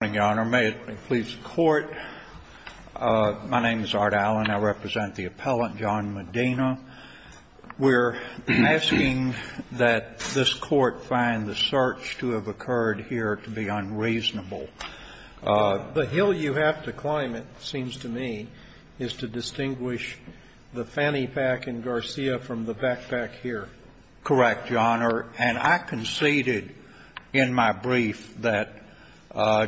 Good morning, Your Honor. May it please the Court, my name is Art Allen. I represent the appellant, John Medina. We're asking that this Court find the search to have occurred here to be unreasonable. The hill you have to climb, it seems to me, is to distinguish the fanny pack in Garcia from the backpack here. Correct, Your Honor. And I conceded in my brief that,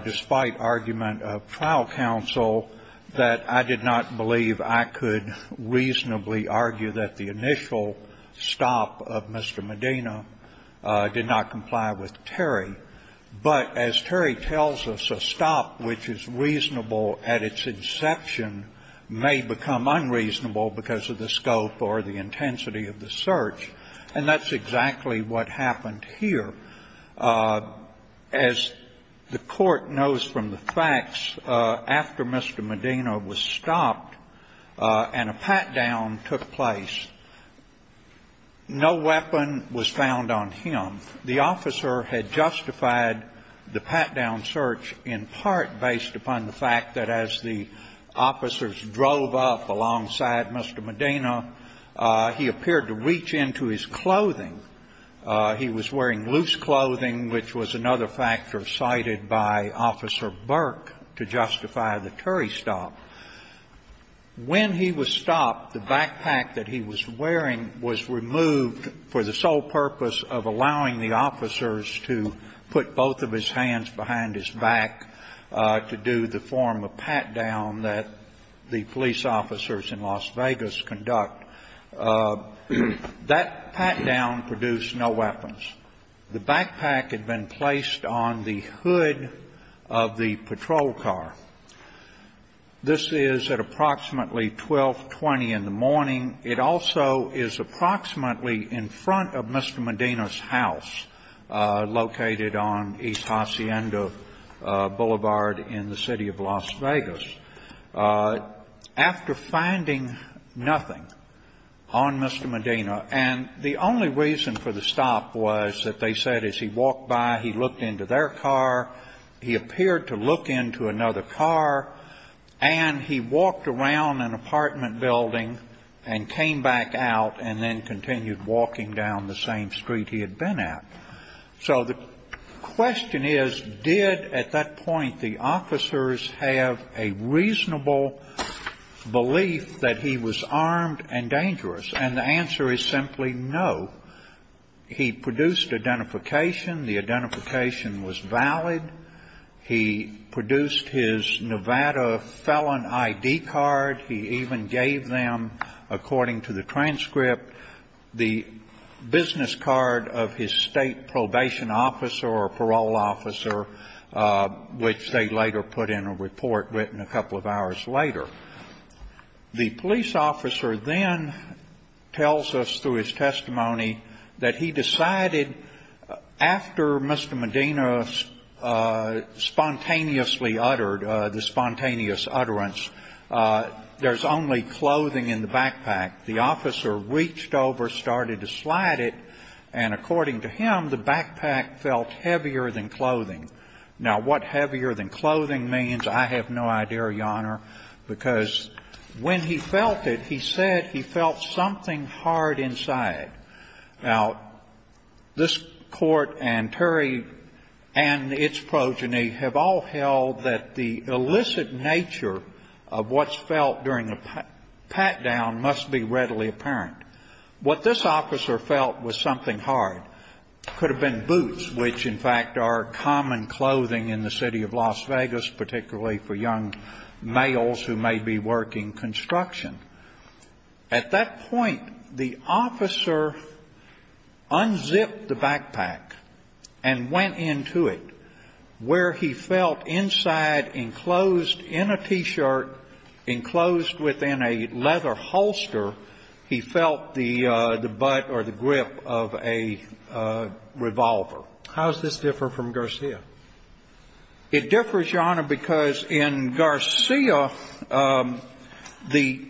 despite argument of trial counsel, that I did not believe I could reasonably argue that the initial stop of Mr. Medina did not comply with Terry. But as Terry tells us, a stop which is reasonable at its inception may become unreasonable because of the scope or the intensity of the search. And that's exactly what happened here. As the Court knows from the facts, after Mr. Medina was stopped and a pat-down took place, no weapon was found on him. The officer had justified the pat-down search in part based upon the fact that as the officers drove up alongside Mr. Medina, he appeared to reach into his clothing. He was wearing loose clothing, which was another factor cited by Officer Burke to justify the Terry stop. When he was stopped, the backpack that he was wearing was removed for the sole purpose of allowing the officers to put both of his hands behind his back to do the form of pat-down that the police officers in Las Vegas conduct. That pat-down produced no weapons. The backpack had been placed on the hood of the patrol car. This is at approximately 1220 in the morning. It also is approximately in front of Mr. Medina's house, located on East Hacienda Boulevard in the City of Las Vegas. After finding nothing on Mr. Medina, and the only reason for the stop was that they looked into their car, he appeared to look into another car, and he walked around an apartment building and came back out and then continued walking down the same street he had been at. So the question is, did at that point the officers have a reasonable belief that he was armed and dangerous? And the answer is simply no. He produced identification. The identification was valid. He produced his Nevada felon ID card. He even gave them, according to the transcript, the business card of his state probation officer or parole officer, which they later put in a report written a couple of hours later. The police officer then tells us through his testimony that he decided after Mr. Medina spontaneously uttered the spontaneous utterance, there's only clothing in the backpack. The officer reached over, started to slide it, and according to him, the backpack felt heavier than clothing. Now, what heavier than clothing means I have no idea, Your Honor. Because when he felt it, he said he felt something hard inside. Now, this court and Terry and its progeny have all held that the illicit nature of what's felt during a pat-down must be readily apparent. What this officer felt was something hard. Could have been boots, which, in fact, are common clothing in the city of Las Vegas, particularly for young males who may be working construction. At that point, the officer unzipped the backpack and went into it, where he felt inside enclosed in a T-shirt, enclosed within a leather holster, he felt the butt or the grip of a revolver. How does this differ from Garcia? It differs, Your Honor, because in Garcia, the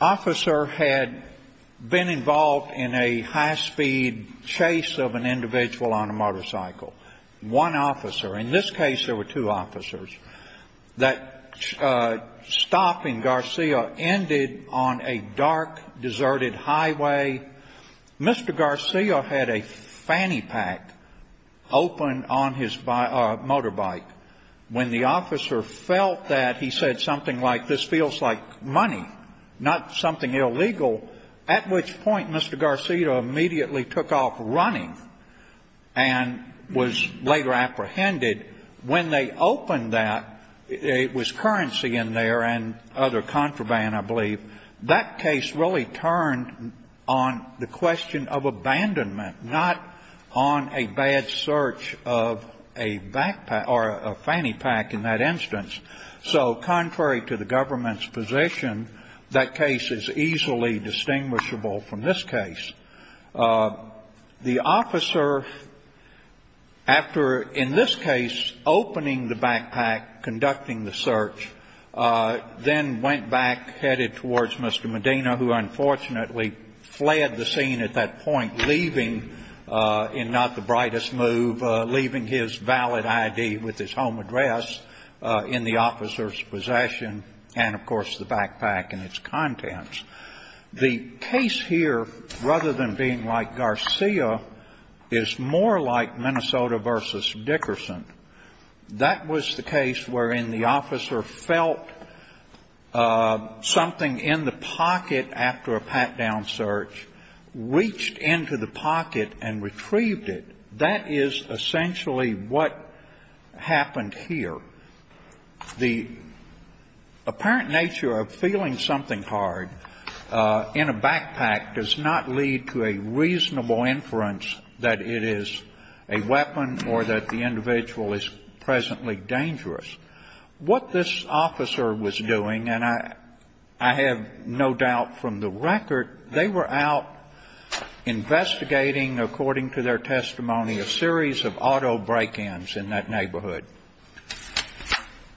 officer had been involved in a high-speed chase of an individual on a motorcycle. One officer, in this case there were two officers, that stop in Garcia ended on a dark, deserted highway. Mr. Garcia had a fanny pack open on his motorbike. When the officer felt that, he said something like, this feels like money, not something illegal, at which point Mr. Garcia immediately took off running and was later apprehended. When they opened that, it was currency in there and other contraband, I believe. That case really turned on the question of abandonment, not on a bad search of a backpack or a fanny pack in that instance. So contrary to the government's position, that case is easily distinguishable from this case. The officer, after, in this case, opening the backpack, conducting the search, then went back, headed towards Mr. Medina, who unfortunately fled the scene at that point, leaving in not the brightest move, leaving his valid I.D. with his home address in the officer's possession and, of course, the backpack and its contents. The case here, rather than being like Garcia, is more like Minnesota v. Dickerson. That was the case wherein the officer felt something in the pocket after a pat-down search, reached into the pocket and retrieved it. That is essentially what happened here. The apparent nature of feeling something hard in a backpack does not lead to a reasonable inference that it is a weapon or that the individual is presently dangerous. What this officer was doing, and I have no doubt from the record, they were out investigating, according to their testimony, a series of auto break-ins in that neighborhood.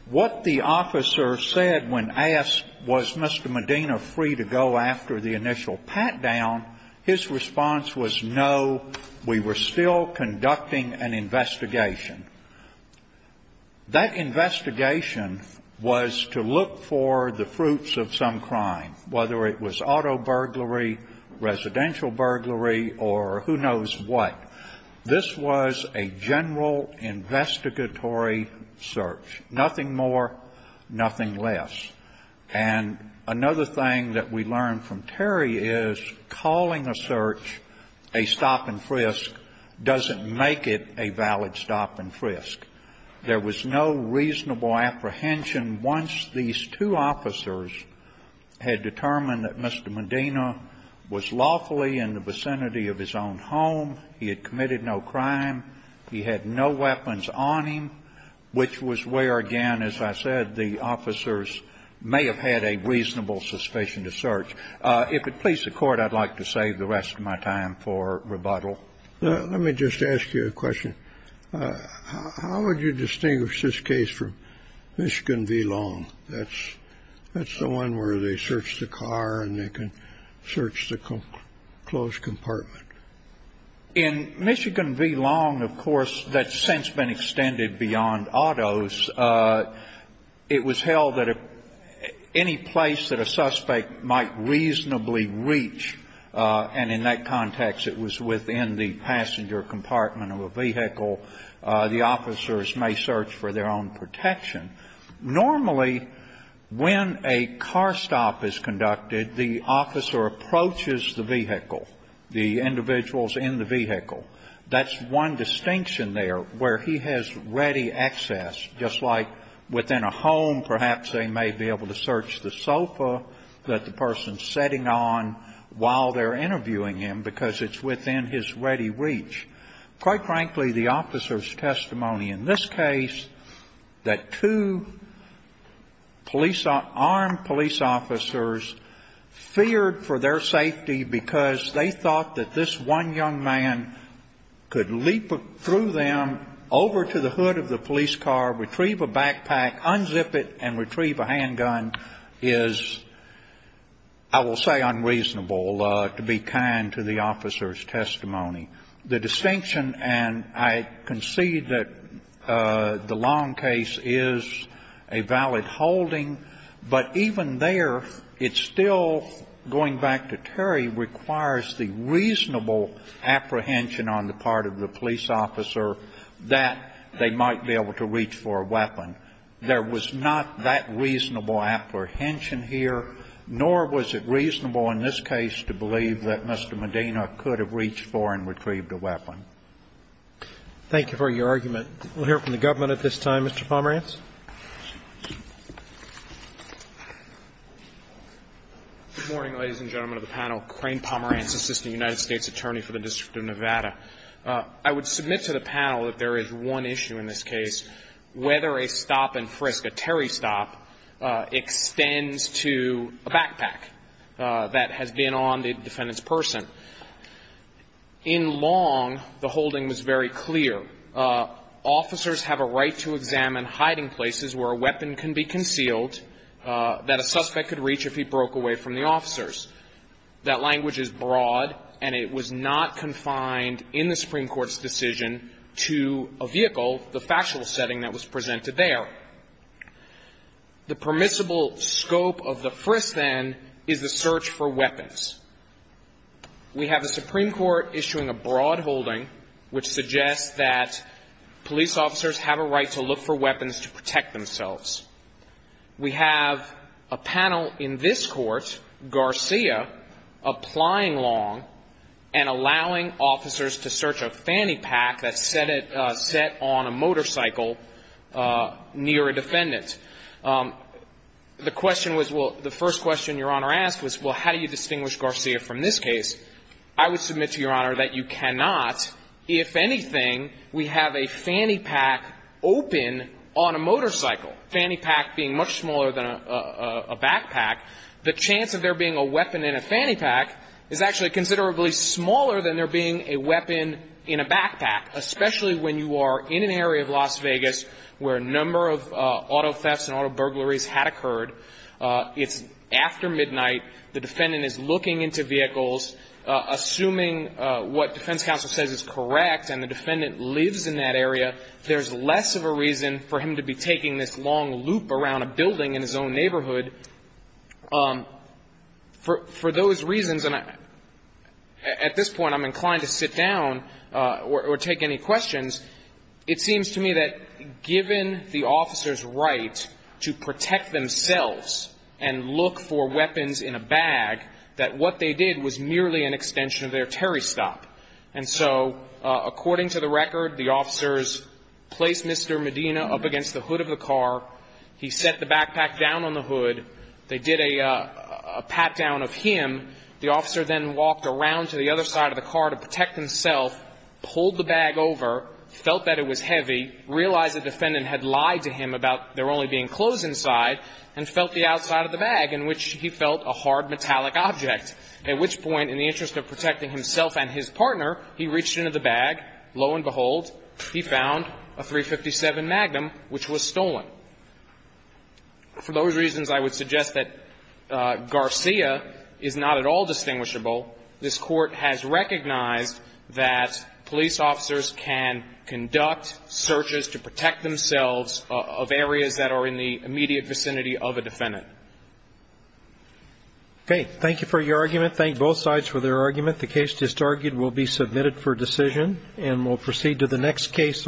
What the officer said when asked, was Mr. Medina free to go after the initial pat-down, his response was no, we were still conducting an investigation. That investigation was to look for the fruits of some crime, whether it was auto burglary, residential burglary, or who knows what. This was a general investigatory search. Nothing more, nothing less. And another thing that we learned from Terry is calling a search a stop-and-frisk doesn't make it a valid stop-and-frisk. There was no reasonable apprehension once these two officers had determined that Mr. Medina was lawfully in the vicinity of his own home, he had committed no crime, he had no weapons on him, which was where, again, as I said, the officers may have had a reasonable suspicion to search. If it please the Court, I'd like to save the rest of my time for rebuttal. Let me just ask you a question. How would you distinguish this case from Michigan v. Long? That's the one where they search the car and they can search the closed compartment. In Michigan v. Long, of course, that's since been extended beyond autos. It was held that any place that a suspect might reasonably reach, and in that context it was within the passenger compartment of a vehicle, the officers may search for their own protection. Normally, when a car stop is conducted, the officer approaches the vehicle, the individuals in the vehicle. That's one distinction there, where he has ready access, just like within a home perhaps they may be able to search the sofa that the person's sitting on while they're interviewing him because it's within his ready reach. Quite frankly, the officers' testimony in this case, that two police, armed police officers feared for their safety because they thought that this one young man could leap through them over to the hood of the police car, retrieve a backpack, unzip it and retrieve a handgun, is, I will say, unreasonable, to be kind to the officers' testimony. The distinction, and I concede that the Long case is a valid holding, but even there it still, going back to Terry, requires the reasonable apprehension on the part of the police officer that they might be able to reach for a weapon. There was not that reasonable apprehension here, nor was it reasonable in this case to believe that Mr. Medina could have reached for and retrieved a weapon. Thank you for your argument. We'll hear from the government at this time. Mr. Pomerantz. Good morning, ladies and gentlemen of the panel. Crane Pomerantz, Assistant United States Attorney for the District of Nevada. I would submit to the panel that there is one issue in this case, whether a stop and frisk, a Terry stop, extends to a backpack that has been on the defendant's person. In Long, the holding was very clear. Officers have a right to examine hiding places where a weapon can be concealed that a suspect could reach if he broke away from the officers. That language is broad, and it was not confined in the Supreme Court's decision to a vehicle, the factual setting that was presented there. The permissible scope of the frisk, then, is the search for weapons. We have the Supreme Court issuing a broad holding which suggests that police officers have a right to look for weapons to protect themselves. We have a panel in this Court, Garcia, applying Long and allowing officers to search a fanny pack that's set on a motorcycle near a defendant. The question was, well, the first question Your Honor asked was, well, how do you protect yourself from a fanny pack? And I'm going to quote Justice Garcia from this case. I would submit to Your Honor that you cannot. If anything, we have a fanny pack open on a motorcycle, fanny pack being much smaller than a backpack. The chance of there being a weapon in a fanny pack is actually considerably where a number of auto thefts and auto burglaries had occurred. It's after midnight. The defendant is looking into vehicles. Assuming what defense counsel says is correct and the defendant lives in that area, there's less of a reason for him to be taking this long loop around a building in his own neighborhood. For those reasons, and at this point I'm inclined to sit down or take any questions, it seems to me that given the officer's right to protect themselves and look for weapons in a bag, that what they did was merely an extension of their Terry stop. And so according to the record, the officers placed Mr. Medina up against the hood of the car. He set the backpack down on the hood. They did a pat down of him. The officer then walked around to the other side of the car to protect himself, pulled the bag over, felt that it was heavy, realized the defendant had lied to him about there only being clothes inside, and felt the outside of the bag in which he felt a hard metallic object. At which point, in the interest of protecting himself and his partner, he reached into the bag. Lo and behold, he found a .357 Magnum, which was stolen. For those reasons, I would suggest that Garcia is not at all distinguishable. This Court has recognized that police officers can conduct searches to protect themselves of areas that are in the immediate vicinity of a defendant. Okay. Thank you for your argument. Thank both sides for their argument. The case just argued will be submitted for decision, and we'll proceed to the next case